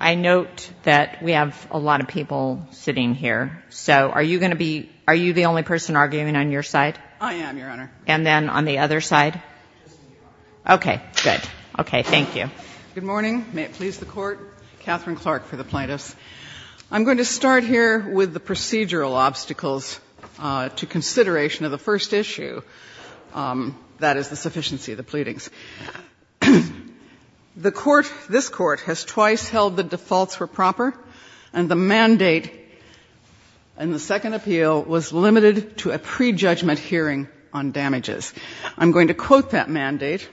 I note that we have a lot of people sitting here, so are you going to be — are you the only person arguing on your side? I am, Your Honor. And then on the other side? Just me, Your Honor. Okay, good. Okay, thank you. Good morning. May it please the Court. Katherine Clark for the plaintiffs. I'm going to start here with the procedural obstacles to consideration of the first issue, that is, the sufficiency of the pleadings. The Court — this Court has twice held the defaults were proper, and the mandate in the second appeal was limited to a prejudgment hearing on damages. I'm going to quote that mandate.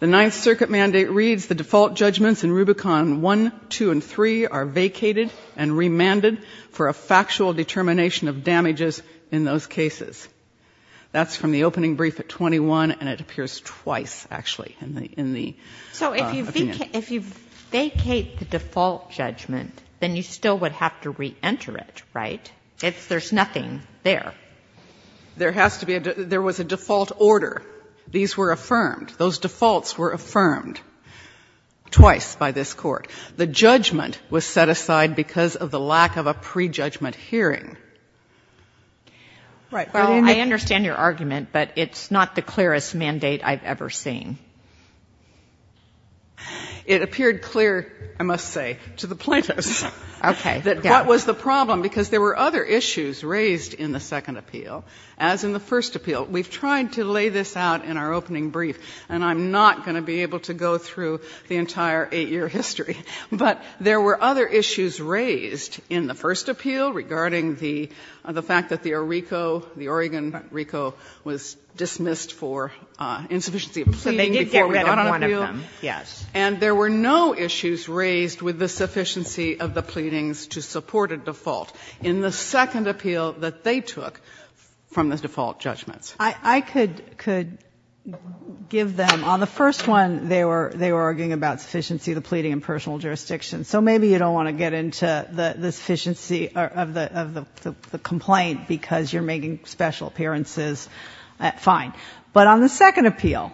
The Ninth Circuit mandate reads, the default judgments in Rubicon 1, 2, and 3 are vacated and remanded for a factual determination of damages in those cases. That's from the opening brief at 21, and it appears twice, actually, in the opinion. So if you vacate the default judgment, then you still would have to reenter it, right? There's nothing there. There has to be a — there was a default order. These were affirmed. Those defaults were affirmed twice by this Court. The judgment was set aside because of the lack of a prejudgment hearing. Right. But in the — Well, I understand your argument, but it's not the clearest mandate I've ever seen. It appeared clear, I must say, to the plaintiffs. Okay. That what was the problem, because there were other issues raised in the second appeal, as in the first appeal. We've tried to lay this out in our opening brief, and I'm not going to be able to go through the entire eight-year history. But there were other issues raised in the first appeal regarding the fact that the Orico, the Oregon Orico, was dismissed for insufficiency of pleading before we got on appeal. So they did get rid of one of them, yes. And there were no issues raised with the sufficiency of the pleadings to support a default in the second appeal that they took from the default judgments. I could give them — on the first one, they were arguing about sufficiency of the pleading in personal jurisdiction. So maybe you don't want to get into the sufficiency of the complaint because you're making special appearances. Fine. But on the second appeal,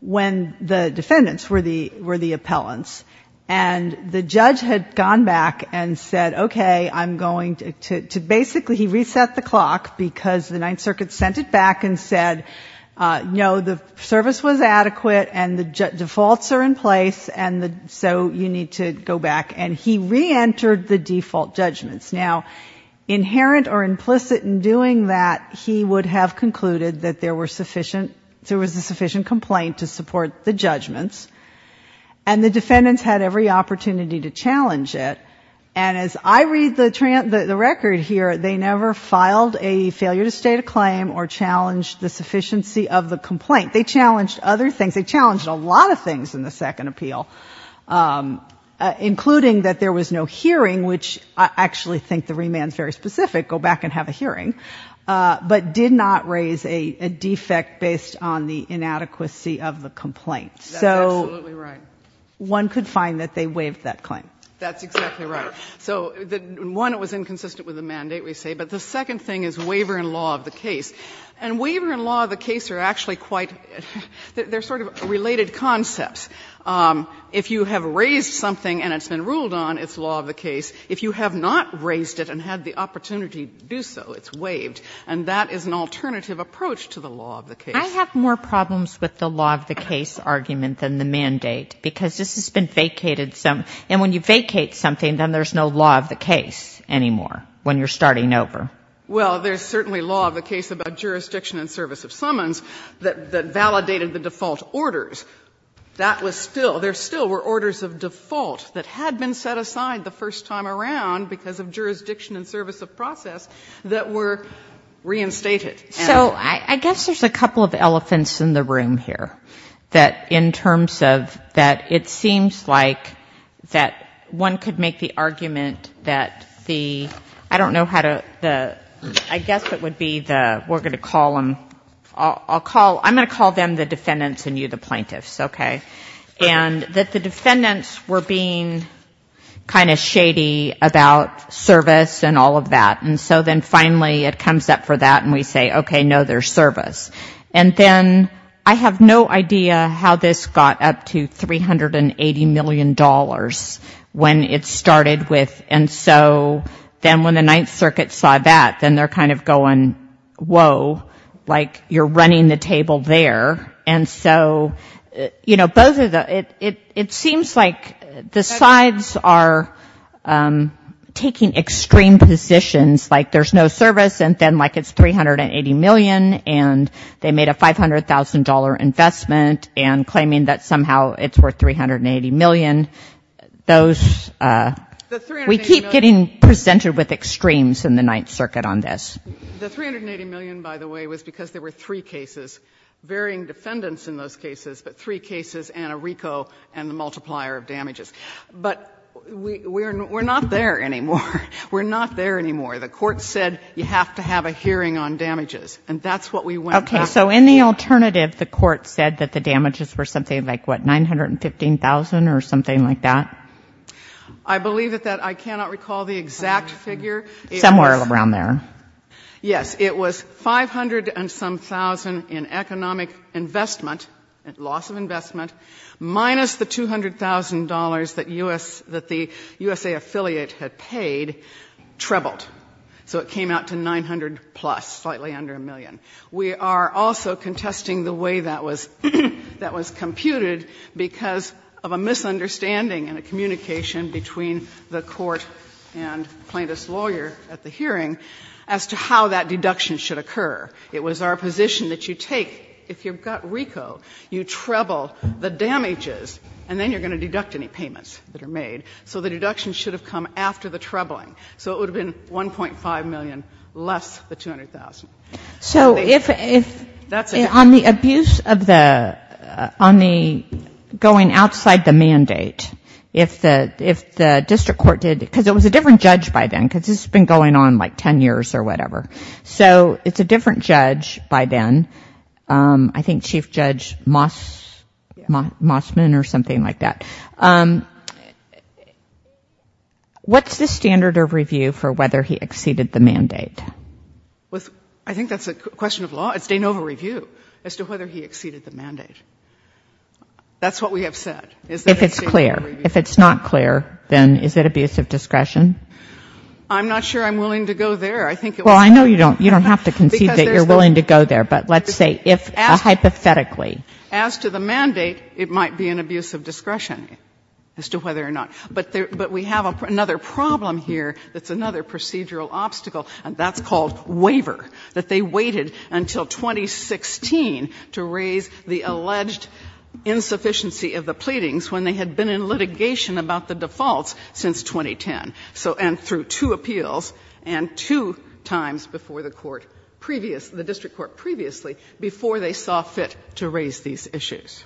when the defendants were the appellants, and the judge had gone back and said, okay, I'm going to — basically, he reset the clock because the Ninth Circuit sent it back and said, no, the service was adequate and the judge said, so you need to go back, and he reentered the default judgments. Now, inherent or implicit in doing that, he would have concluded that there were sufficient — there was a sufficient complaint to support the judgments, and the defendants had every opportunity to challenge it. And as I read the record here, they never filed a failure to state a claim or challenged the sufficiency of the complaint. They challenged other things. They challenged a lot of things in the second appeal, including that there was no hearing, which I actually think the remand is very specific, go back and have a hearing, but did not raise a defect based on the inadequacy of the complaint. That's absolutely right. So one could find that they waived that claim. That's exactly right. So one, it was inconsistent with the mandate, we say, but the second thing is waiver in law of the case. And waiver in law of the case are actually quite — they're sort of related concepts. If you have raised something and it's been ruled on, it's law of the case. If you have not raised it and had the opportunity to do so, it's waived. And that is an alternative approach to the law of the case. I have more problems with the law of the case argument than the mandate, because this has been vacated some — and when you vacate something, then there's no law of the case anymore when you're starting over. Well, there's certainly law of the case about jurisdiction and service of summons that validated the default orders. That was still — there still were orders of default that had been set aside the first time around because of jurisdiction and service of process that were reinstated. So I guess there's a couple of elephants in the room here, that in terms of that it seems like that one could make the argument that the — I don't know how to — I guess it would be the — we're going to call them — I'm going to call them the defendants and you the plaintiffs, okay? And that the defendants were being kind of shady about service and all of that. And so then finally it comes up for that and we say, okay, no, there's service. And then I have no idea how this got up to $380 million when it started with — and so then when the Ninth Circuit saw that, then they're kind of going, whoa, like you're running the table there. And so, you know, both of the — it seems like the sides are taking extreme positions, like there's no service and then like it's $380 million and they made a $500,000 investment and claiming that somehow it's worth $380 million. And those — The $380 million — We keep getting presented with extremes in the Ninth Circuit on this. The $380 million, by the way, was because there were three cases, varying defendants in those cases, but three cases and a RICO and the multiplier of damages. But we're not there anymore. We're not there anymore. The court said you have to have a hearing on damages. And that's what we went back to. Okay. So in the alternative, the court said that the damages were something like, what, $915,000 or something like that? I believe that I cannot recall the exact figure. Somewhere around there. Yes. It was $500,000 and some thousand in economic investment, loss of investment, minus the $200,000 that the USA affiliate had paid, trebled. So it came out to $900,000-plus, slightly under a million. We are also contesting the way that was computed because of a misunderstanding and a communication between the court and plaintiff's lawyer at the hearing as to how that deduction should occur. It was our position that you take, if you've got RICO, you treble the damages, and then you're going to deduct any payments that are made. So the deduction should have come after the trebling. So it would have been $1.5 million less the $200,000. So if, on the abuse of the, on the going outside the mandate, if the district court did, because it was a different judge by then, because this has been going on like 10 years or whatever. So it's a different judge by then. I think Chief Judge Mossman or something like that. What's the standard of review for whether he exceeded the mandate? I think that's a question of law. It's de novo review as to whether he exceeded the mandate. That's what we have said. Is that a standard of review? If it's clear. If it's not clear, then is it abuse of discretion? I'm not sure I'm willing to go there. I think it was said. Well, I know you don't have to concede that you're willing to go there, but let's say hypothetically. As to the mandate, it might be an abuse of discretion as to whether or not. But we have another problem here that's another procedural obstacle, and that's called waiver. That they waited until 2016 to raise the alleged insufficiency of the pleadings when they had been in litigation about the defaults since 2010. And through two appeals and two times before the court previous, the district court previously, before they saw fit to raise these issues.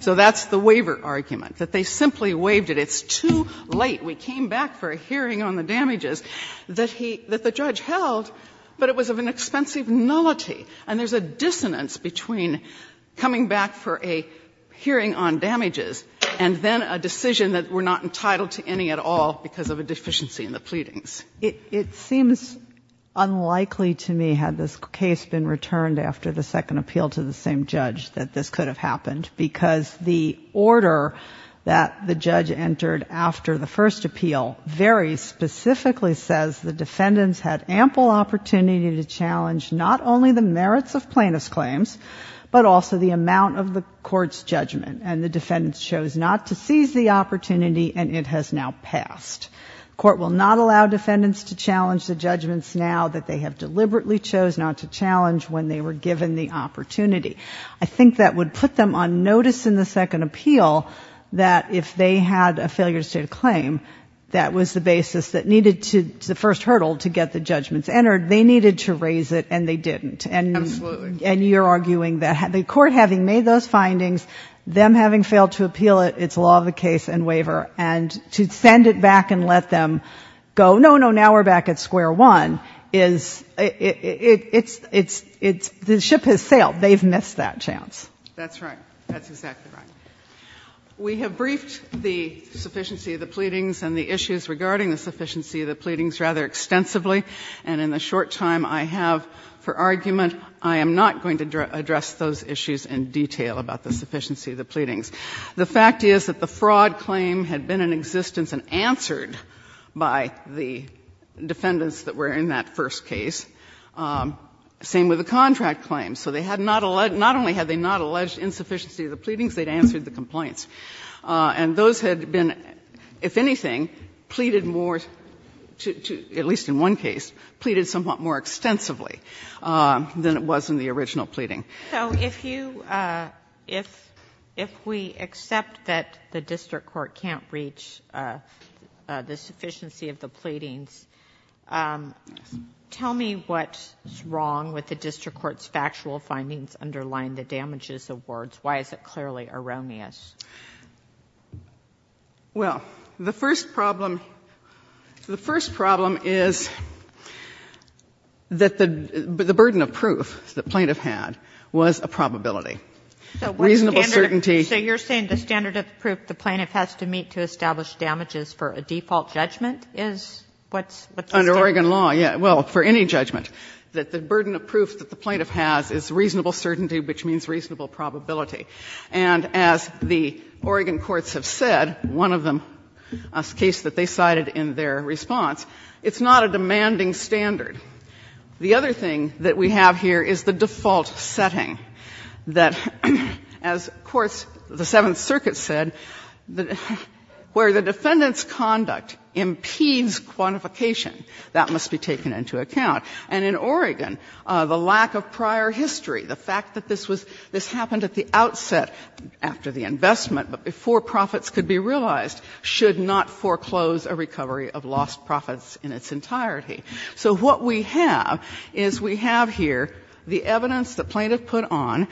So that's the waiver argument. That they simply waived it. It's too late. We came back for a hearing on the damages that the judge held, but it was of an expensive nullity, and there's a dissonance between coming back for a hearing on damages and then a decision that we're not entitled to any at all because of a deficiency in the pleadings. It seems unlikely to me, had this case been returned after the second appeal to the first appeal, very specifically says the defendants had ample opportunity to challenge not only the merits of plaintiff's claims, but also the amount of the court's judgment. And the defendants chose not to seize the opportunity, and it has now passed. Court will not allow defendants to challenge the judgments now that they have deliberately chose not to challenge when they were given the opportunity. I think that would put them on notice in the second appeal that if they had a failure to state a claim, that was the basis that needed to, the first hurdle to get the judgments entered. They needed to raise it, and they didn't. And you're arguing that the court having made those findings, them having failed to appeal it, it's law of the case and waiver. And to send it back and let them go, no, no, now we're back at square one, is it's, the ship has sailed. They've missed that chance. That's right. That's exactly right. We have briefed the sufficiency of the pleadings and the issues regarding the sufficiency of the pleadings rather extensively. And in the short time I have for argument, I am not going to address those issues in detail about the sufficiency of the pleadings. The fact is that the fraud claim had been in existence and answered by the defendants that were in that first case. Same with the contract claim. So they had not only had they not alleged insufficiency of the pleadings, they had answered the complaints. And those had been, if anything, pleaded more to, at least in one case, pleaded somewhat more extensively than it was in the original pleading. So if you, if we accept that the district court can't reach the sufficiency of the pleadings, tell me what's wrong with the district court's factual findings underlying the damages awards. Why is it clearly erroneous? Well, the first problem, the first problem is that the burden of proof the plaintiff had was a probability. Reasonable certainty. So you're saying the standard of proof the plaintiff has to meet to establish damages for a default judgment is what's the standard? Under Oregon law, yeah. Well, for any judgment. That the burden of proof that the plaintiff has is reasonable certainty, which means reasonable probability. And as the Oregon courts have said, one of them, a case that they cited in their response, it's not a demanding standard. The other thing that we have here is the default setting. That as courts, the Seventh Circuit said, where the defendant's conduct impedes quantification, that must be taken into account. And in Oregon, the lack of prior history, the fact that this was, this happened at the outset after the investment, but before profits could be realized, should not foreclose a recovery of lost profits in its entirety. So what we have is we have here the evidence the plaintiff put on,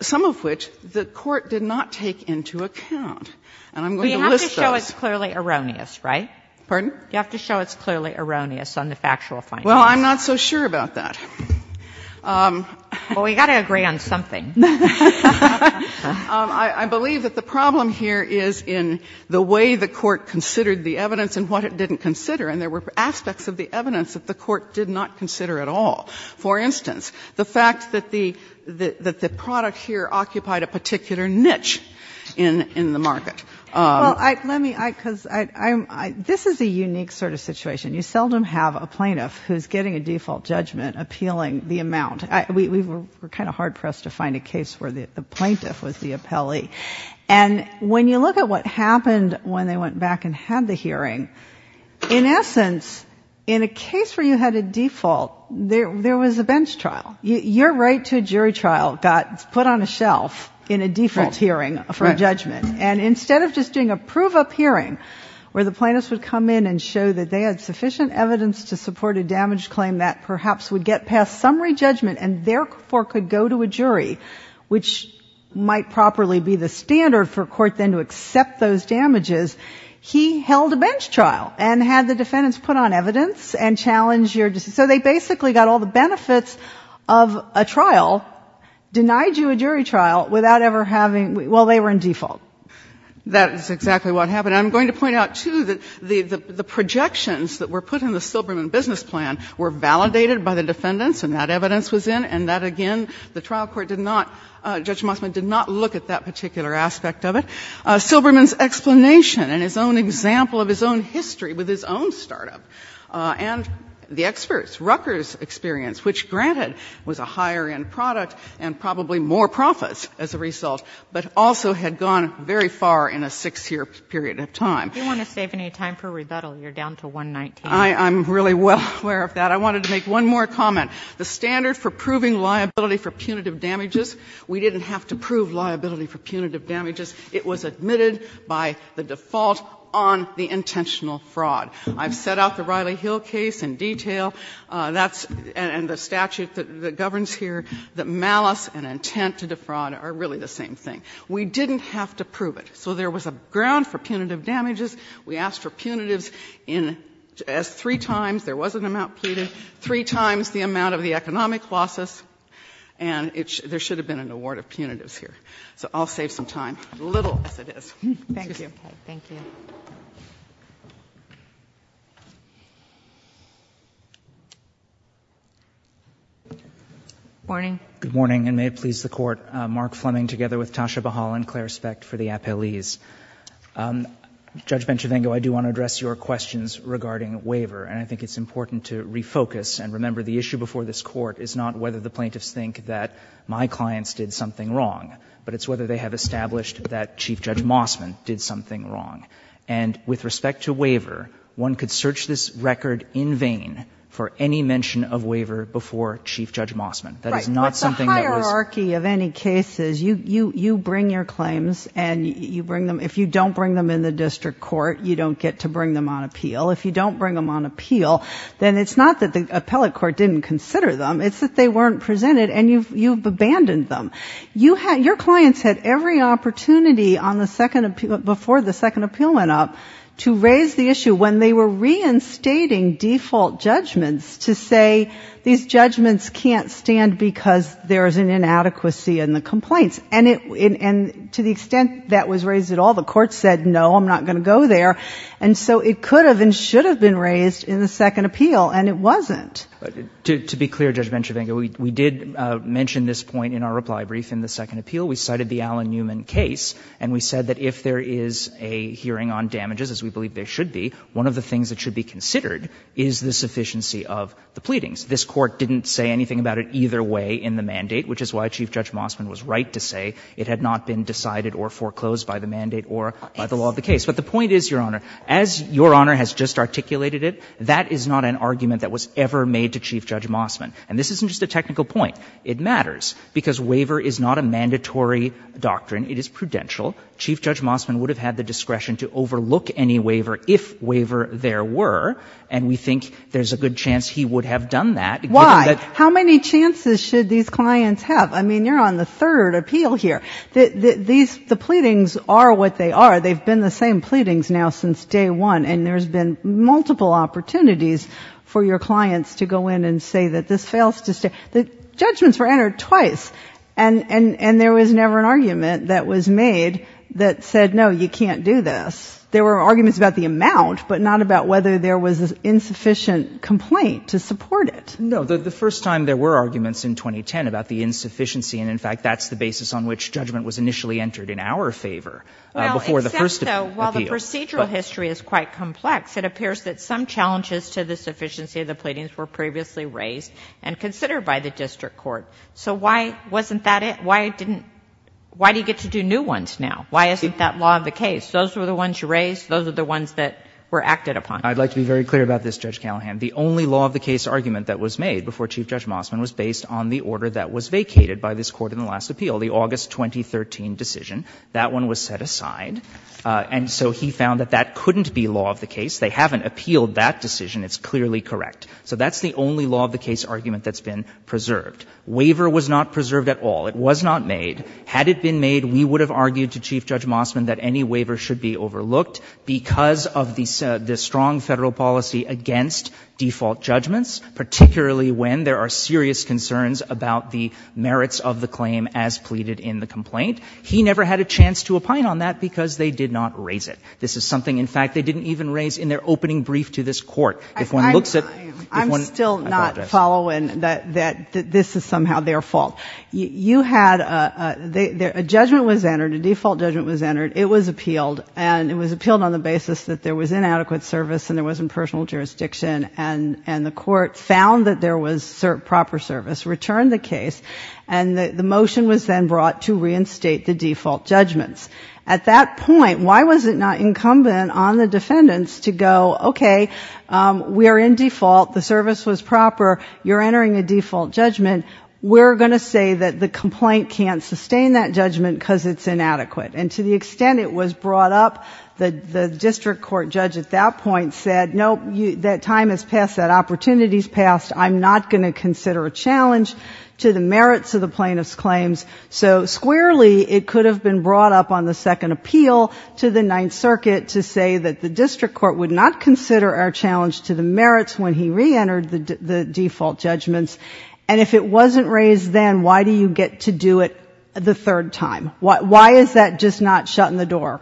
some of which the court did not take into account. And I'm going to list those. You have to show it's clearly erroneous, right? Pardon? You have to show it's clearly erroneous on the factual findings. Well, I'm not so sure about that. Well, we've got to agree on something. I believe that the problem here is in the way the court considered the evidence and what it didn't consider. And there were aspects of the evidence that the court did not consider at all. For instance, the fact that the product here occupied a particular niche in the market. Well, let me, because I'm, this is a unique sort of situation. You seldom have a plaintiff who's getting a default judgment appealing the amount. We were kind of hard-pressed to find a case where the plaintiff was the appellee. And when you look at what happened when they went back and had the hearing, in essence, in a case where you had a default, there was a bench trial. Your right to a jury trial got put on a shelf in a default hearing for a judgment. And instead of just doing a prove-up hearing where the plaintiffs would come in and show that they had sufficient evidence to support a damaged claim that perhaps would get past summary judgment and therefore could go to a jury, which might properly be the standard for a court then to accept those damages, he held a bench trial and had the defendants put on evidence and challenge your, so they basically got all the benefits of a trial, denied you a jury trial without ever having, well, they were in default. That is exactly what happened. I'm going to point out, too, that the projections that were put in the Silberman business plan were validated by the defendants and that evidence was in, and that, again, the trial court did not, Judge Mosman did not look at that particular aspect of it. Silberman's explanation and his own example of his own history with his own startup and the experts, Rucker's experience, which, granted, was a higher-end product and probably more profits as a result, but also had gone very far in a 6-year period of time. You want to save any time for rebuttal? You're down to 119. I'm really well aware of that. I wanted to make one more comment. The standard for proving liability for punitive damages, we didn't have to prove liability for punitive damages. It was admitted by the default on the intentional fraud. I've set out the Riley Hill case in detail. That's the statute that governs here, that malice and intent to defraud are really the same thing. We didn't have to prove it. So there was a ground for punitive damages. We asked for punitives three times. There was an amount pleaded. Three times the amount of the economic losses. And there should have been an award of punitives here. So I'll save some time, little as it is. Thank you. Thank you. Good morning. Good morning, and may it please the Court. Mark Fleming together with Tasha Bahal and Claire Specht for the appellees. Judge Benchivengo, I do want to address your questions regarding waiver, and I think it's important to refocus and remember the issue before this Court is not whether the plaintiffs think that my clients did something wrong, but it's whether they have established that Chief Judge Mossman did something wrong. And with respect to waiver, one could search this record in vain for any mention of waiver before Chief Judge Mossman. That is not something that was — If you don't bring them in the district court, you don't get to bring them on appeal. If you don't bring them on appeal, then it's not that the appellate court didn't consider them, it's that they weren't presented and you've abandoned them. Your clients had every opportunity before the second appeal went up to raise the issue when they were reinstating default judgments to say these judgments can't stand because there's an inadequacy in the complaints. And to the extent that was raised at all, the Court said, no, I'm not going to go there. And so it could have and should have been raised in the second appeal, and it wasn't. To be clear, Judge Benchivengo, we did mention this point in our reply brief in the second appeal. We cited the Allen Newman case, and we said that if there is a hearing on damages, as we believe there should be, one of the things that should be considered is the sufficiency of the pleadings. This Court didn't say anything about it either way in the mandate, which is why Chief Judge Mosman was right to say it had not been decided or foreclosed by the mandate or by the law of the case. But the point is, Your Honor, as Your Honor has just articulated it, that is not an argument that was ever made to Chief Judge Mosman. And this isn't just a technical point. It matters because waiver is not a mandatory doctrine. It is prudential. Chief Judge Mosman would have had the discretion to overlook any waiver if waiver there were, and we think there's a good chance he would have done that. Why? How many chances should these clients have? I mean, you're on the third appeal here. The pleadings are what they are. They've been the same pleadings now since day one, and there's been multiple opportunities for your clients to go in and say that this fails to stay. The judgments were entered twice, and there was never an argument that was made that said, no, you can't do this. There were arguments about the amount, but not about whether there was an insufficient complaint to support it. No. The first time there were arguments in 2010 about the insufficiency, and in fact that's the basis on which judgment was initially entered in our favor before the first appeal. Well, except, though, while the procedural history is quite complex, it appears that some challenges to the sufficiency of the pleadings were previously raised and considered by the district court. So why wasn't that it? Why didn't you get to do new ones now? Why isn't that law of the case? Those were the ones you raised. Those were the ones that were acted upon. I'd like to be very clear about this, Judge Callahan. The only law of the case argument that was made before Chief Judge Mosman was based on the order that was vacated by this Court in the last appeal, the August 2013 decision. That one was set aside. And so he found that that couldn't be law of the case. They haven't appealed that decision. It's clearly correct. So that's the only law of the case argument that's been preserved. Waiver was not preserved at all. It was not made. Had it been made, we would have argued to Chief Judge Mosman that any waiver should be overlooked because of the strong Federal policy against default judgments, particularly when there are serious concerns about the merits of the claim as pleaded in the complaint. He never had a chance to opine on that because they did not raise it. This is something, in fact, they didn't even raise in their opening brief to this Court. If one looks at – I'm still not following that this is somehow their fault. You had – a judgment was entered, a default judgment was entered. It was appealed. And it was appealed on the basis that there was inadequate service and there wasn't personal jurisdiction, and the Court found that there was proper service, returned the case, and the motion was then brought to reinstate the default judgments. At that point, why was it not incumbent on the defendants to go, okay, we are in default, the service was proper, you're entering a default judgment, we're going to say that the complaint can't sustain that judgment because it's inadequate. And to the extent it was brought up, the district court judge at that point said, nope, that time has passed, that opportunity has passed, I'm not going to consider a challenge to the merits of the plaintiff's claims. So squarely, it could have been brought up on the second appeal to the Ninth Circuit to say that the district court would not consider a challenge to the merits when he reentered the default judgments. And if it wasn't raised then, why do you get to do it the third time? Why is that just not shutting the door?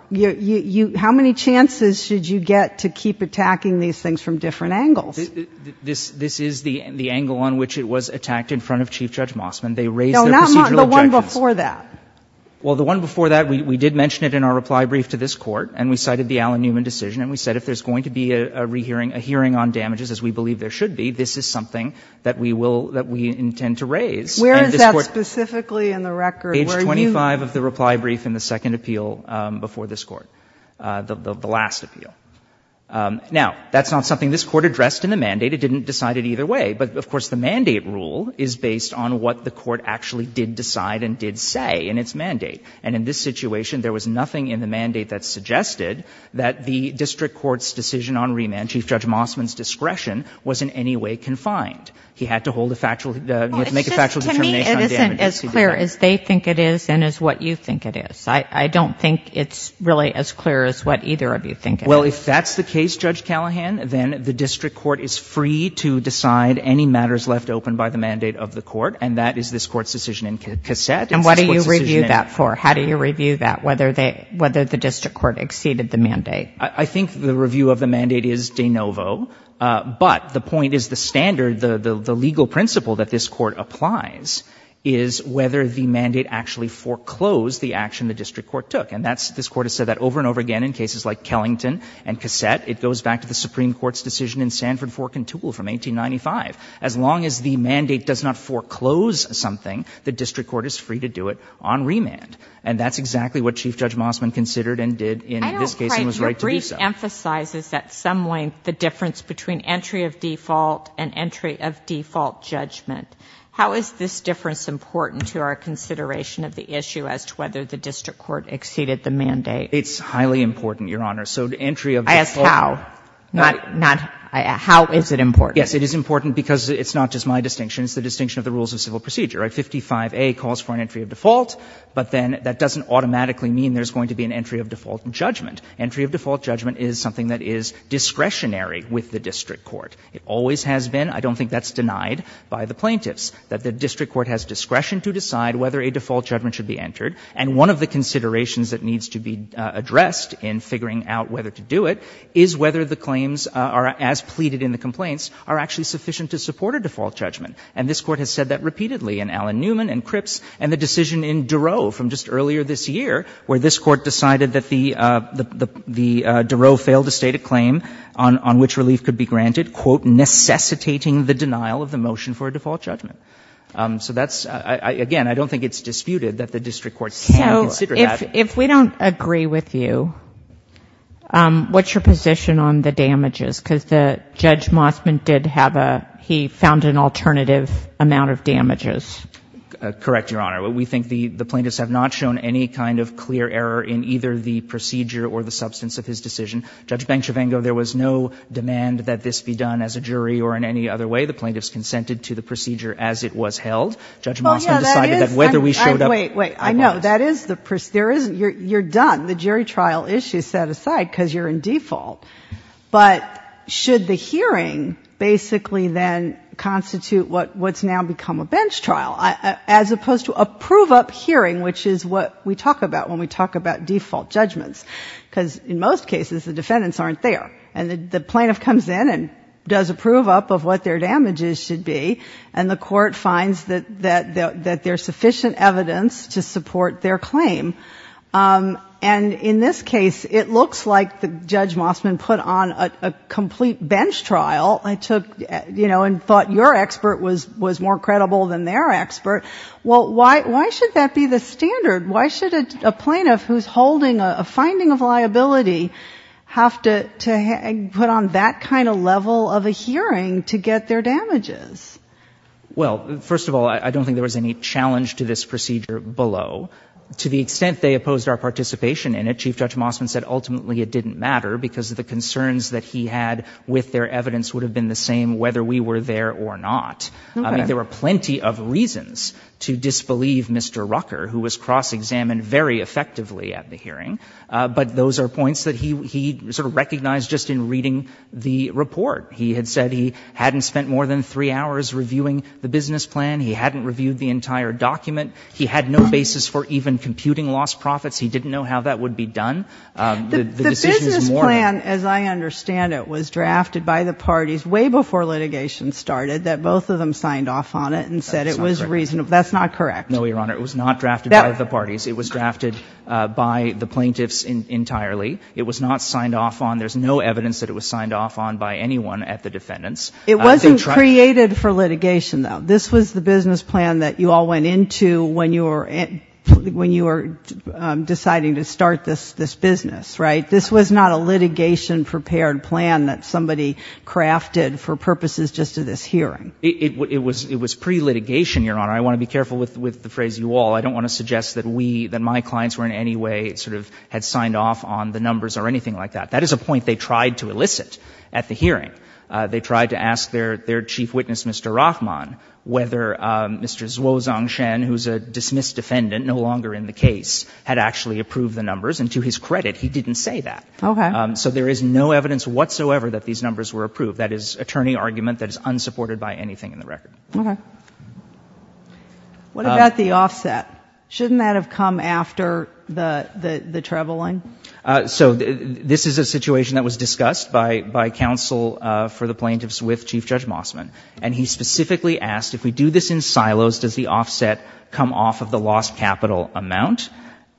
How many chances should you get to keep attacking these things from different angles? This is the angle on which it was attacked in front of Chief Judge Mossman. They raised their procedural objections. No, not the one before that. Well, the one before that, we did mention it in our reply brief to this Court, and we cited the Allen Newman decision, and we said if there's going to be a hearing on damages, as we believe there should be, this is something that we will, that we intend to raise. Where is that specifically in the record? Where are you? Age 25 of the reply brief in the second appeal before this Court, the last appeal. Now, that's not something this Court addressed in the mandate. It didn't decide it either way. But, of course, the mandate rule is based on what the Court actually did decide and did say in its mandate. And in this situation, there was nothing in the mandate that suggested that the district court's decision on remand, Chief Judge Mossman's discretion, was in any way confined. He had to hold a factual, make a factual determination on damages. As clear as they think it is and as what you think it is. I don't think it's really as clear as what either of you think it is. Well, if that's the case, Judge Callahan, then the district court is free to decide any matters left open by the mandate of the court, and that is this Court's decision in cassette. And what do you review that for? How do you review that, whether the district court exceeded the mandate? I think the review of the mandate is de novo. But the point is the standard, the legal principle that this Court applies is whether the mandate actually foreclosed the action the district court took. And that's, this Court has said that over and over again in cases like Kellington and cassette. It goes back to the Supreme Court's decision in Sanford, Fork, and Toole from 1895. As long as the mandate does not foreclose something, the district court is free to do it on remand. And that's exactly what Chief Judge Mossman considered and did in this case and was right to do so. But he emphasizes at some length the difference between entry of default and entry of default judgment. How is this difference important to our consideration of the issue as to whether the district court exceeded the mandate? It's highly important, Your Honor. So entry of default. I asked how. Not, not, how is it important? Yes, it is important because it's not just my distinction. It's the distinction of the rules of civil procedure, right? 55A calls for an entry of default, but then that doesn't automatically mean there's going to be an entry of default judgment. Entry of default judgment is something that is discretionary with the district court. It always has been. I don't think that's denied by the plaintiffs, that the district court has discretion to decide whether a default judgment should be entered. And one of the considerations that needs to be addressed in figuring out whether to do it is whether the claims are, as pleaded in the complaints, are actually sufficient to support a default judgment. And this Court has said that repeatedly in Allen Newman and Cripps and the decision in Durow from just earlier this year, where this Court decided that the, the, the Durow failed to state a claim on, on which relief could be granted, quote, necessitating the denial of the motion for a default judgment. So that's, again, I don't think it's disputed that the district court can consider that. So if, if we don't agree with you, what's your position on the damages? Because the Judge Mossman did have a, he found an alternative amount of damages. Correct, Your Honor. We think the, the plaintiffs have not shown any kind of clear error in either the procedure or the substance of his decision. Judge Banchivengo, there was no demand that this be done as a jury or in any other way. The plaintiffs consented to the procedure as it was held. Judge Mossman decided that whether we showed up or not. Wait, wait. I know. That is the, there is, you're, you're done. The jury trial issue is set aside because you're in default. But should the hearing basically then constitute what, what's now become a bench trial as opposed to approve up hearing, which is what we talk about when we talk about default judgments. Because in most cases, the defendants aren't there. And the plaintiff comes in and does approve up of what their damages should be. And the court finds that, that, that there's sufficient evidence to support their claim. And in this case, it looks like the Judge Mossman put on a, a complete bench trial. I took, you know, and thought your expert was, was more credible than their expert. Well, why, why should that be the standard? Why should a, a plaintiff who's holding a, a finding of liability have to, to hang, put on that kind of level of a hearing to get their damages? Well, first of all, I, I don't think there was any challenge to this procedure below. To the extent they opposed our participation in it, Chief Judge Mossman said ultimately it didn't matter because of the concerns that he had with their evidence would have been the same whether we were there or not. Okay. I mean, there were plenty of reasons to disbelieve Mr. Rucker, who was cross-examined very effectively at the hearing. But those are points that he, he sort of recognized just in reading the report. He had said he hadn't spent more than three hours reviewing the business plan. He hadn't reviewed the entire document. He had no basis for even computing lost profits. He didn't know how that would be done. The business plan, as I understand it, was drafted by the parties way before litigation started, that both of them signed off on it and said it was reasonable. That's not correct. No, Your Honor. It was not drafted by the parties. It was drafted by the plaintiffs entirely. It was not signed off on. There's no evidence that it was signed off on by anyone at the defendants. It wasn't created for litigation, though. This was the business plan that you all went into when you were, when you were going to start this, this business, right? This was not a litigation prepared plan that somebody crafted for purposes just of this hearing. It, it was, it was pre-litigation, Your Honor. I want to be careful with, with the phrase you all. I don't want to suggest that we, that my clients were in any way sort of had signed off on the numbers or anything like that. That is a point they tried to elicit at the hearing. They tried to ask their, their chief witness, Mr. Rahman, whether Mr. Zhuozhang Shen, who's a dismissed defendant, no longer in the case, had actually approved the numbers. And to his credit, he didn't say that. Okay. So there is no evidence whatsoever that these numbers were approved. That is attorney argument that is unsupported by anything in the record. Okay. What about the offset? Shouldn't that have come after the, the, the traveling? So this is a situation that was discussed by, by counsel for the plaintiffs with Chief Judge Mossman. And he specifically asked, if we do this in silos, does the offset come off of the lost capital amount?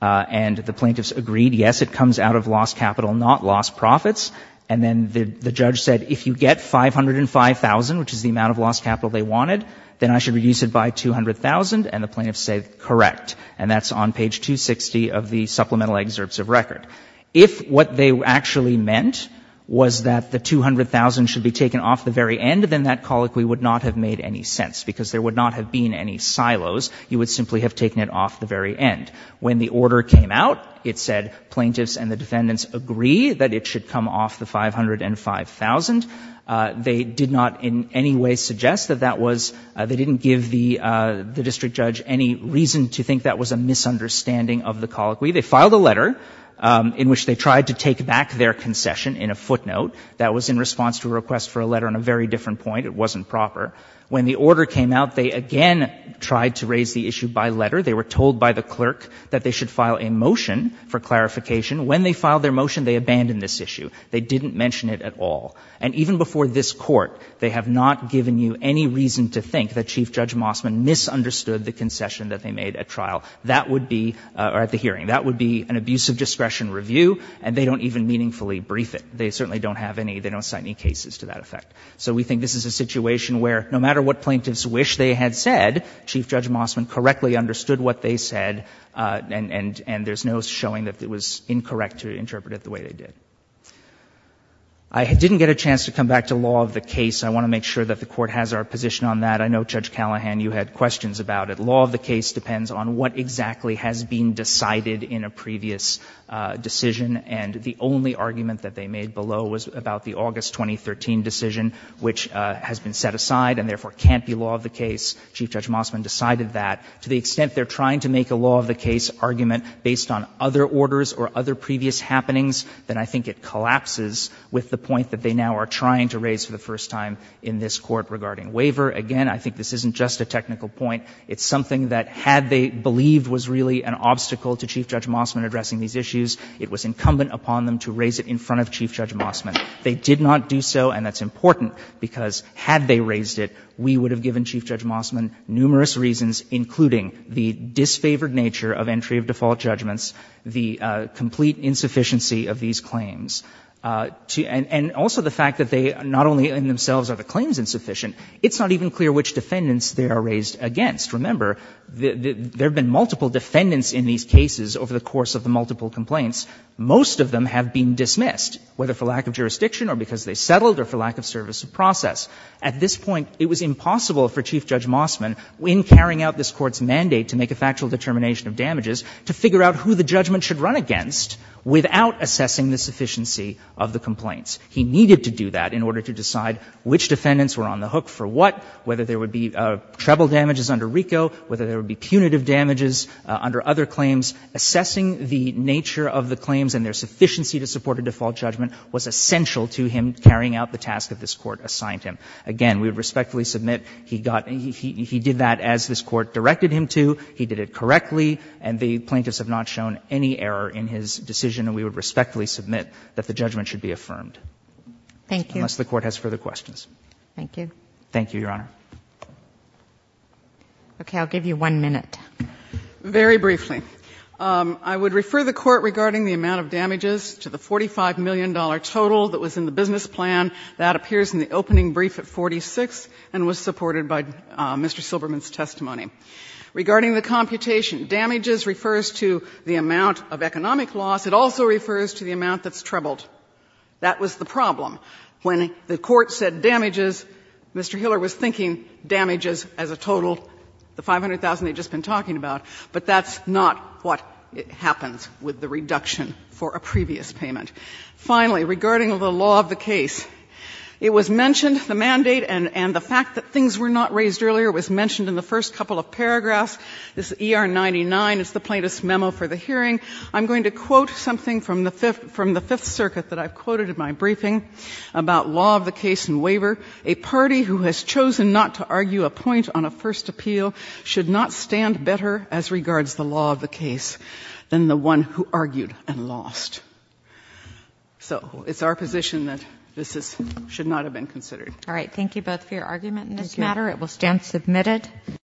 And the plaintiffs agreed, yes, it comes out of lost capital, not lost profits. And then the, the judge said, if you get 505,000, which is the amount of lost capital they wanted, then I should reduce it by 200,000. And the plaintiffs said, correct. And that's on page 260 of the supplemental excerpts of record. If what they actually meant was that the 200,000 should be taken off the very end, then that colloquy would not have made any sense. Because there would not have been any silos. You would simply have taken it off the very end. When the order came out, it said plaintiffs and the defendants agree that it should come off the 505,000. They did not in any way suggest that that was, they didn't give the, the district judge any reason to think that was a misunderstanding of the colloquy. They filed a letter in which they tried to take back their concession in a footnote that was in response to a request for a letter on a very different point. It wasn't proper. When the order came out, they again tried to raise the issue by letter. They were told by the clerk that they should file a motion for clarification. When they filed their motion, they abandoned this issue. They didn't mention it at all. And even before this court, they have not given you any reason to think that Chief Judge Mossman misunderstood the concession that they made at trial. That would be, or at the hearing, that would be an abuse of discretion review, and they don't even meaningfully brief it. They certainly don't have any, they don't cite any cases to that effect. So we think this is a situation where no matter what plaintiffs wish they had said, Chief Judge Mossman correctly understood what they said, and, and, and there's no showing that it was incorrect to interpret it the way they did. I didn't get a chance to come back to law of the case. I want to make sure that the Court has our position on that. I know, Judge Callahan, you had questions about it. Law of the case depends on what exactly has been decided in a previous decision, and the only argument that they made below was about the August 2013 decision, which has been set aside and therefore can't be law of the case. Chief Judge Mossman decided that. To the extent they're trying to make a law of the case argument based on other orders or other previous happenings, then I think it collapses with the point that they now are trying to raise for the first time in this Court regarding waiver. Again, I think this isn't just a technical point. It's something that had they believed was really an obstacle to Chief Judge Mossman addressing these issues, it was incumbent upon them to raise it in front of Chief Judge Mossman. They did not do so, and that's important, because had they raised it, we would have given Chief Judge Mossman numerous reasons, including the disfavored nature of entry of default judgments, the complete insufficiency of these claims. And also the fact that they not only in themselves are the claims insufficient, it's not even clear which defendants they are raised against. Remember, there have been multiple defendants in these cases over the course of the multiple complaints. Most of them have been dismissed, whether for lack of jurisdiction or because they settled or for lack of service of process. At this point, it was impossible for Chief Judge Mossman, in carrying out this Court's mandate to make a factual determination of damages, to figure out who the judgment should run against without assessing the sufficiency of the complaints. He needed to do that in order to decide which defendants were on the hook for what, under other claims. Assessing the nature of the claims and their sufficiency to support a default judgment was essential to him carrying out the task that this Court assigned him. Again, we would respectfully submit he got — he did that as this Court directed him to. He did it correctly, and the plaintiffs have not shown any error in his decision, and we would respectfully submit that the judgment should be affirmed. Unless the Court has further questions. Thank you. Thank you, Your Honor. Okay. I'll give you one minute. Very briefly. I would refer the Court regarding the amount of damages to the $45 million total that was in the business plan. That appears in the opening brief at 46 and was supported by Mr. Silberman's testimony. Regarding the computation, damages refers to the amount of economic loss. It also refers to the amount that's troubled. That was the problem. When the Court said damages, Mr. Hiller was thinking damages as a total. The $500,000 they had just been talking about. But that's not what happens with the reduction for a previous payment. Finally, regarding the law of the case, it was mentioned, the mandate and the fact that things were not raised earlier was mentioned in the first couple of paragraphs of this ER99. It's the plaintiff's memo for the hearing. I'm going to quote something from the Fifth Circuit that I've quoted in my briefing about law of the case and waiver. A party who has chosen not to argue a point on a first appeal should not stand better as regards the law of the case than the one who argued and lost. So it's our position that this should not have been considered. All right. Thank you both for your argument in this matter. It will stand submitted.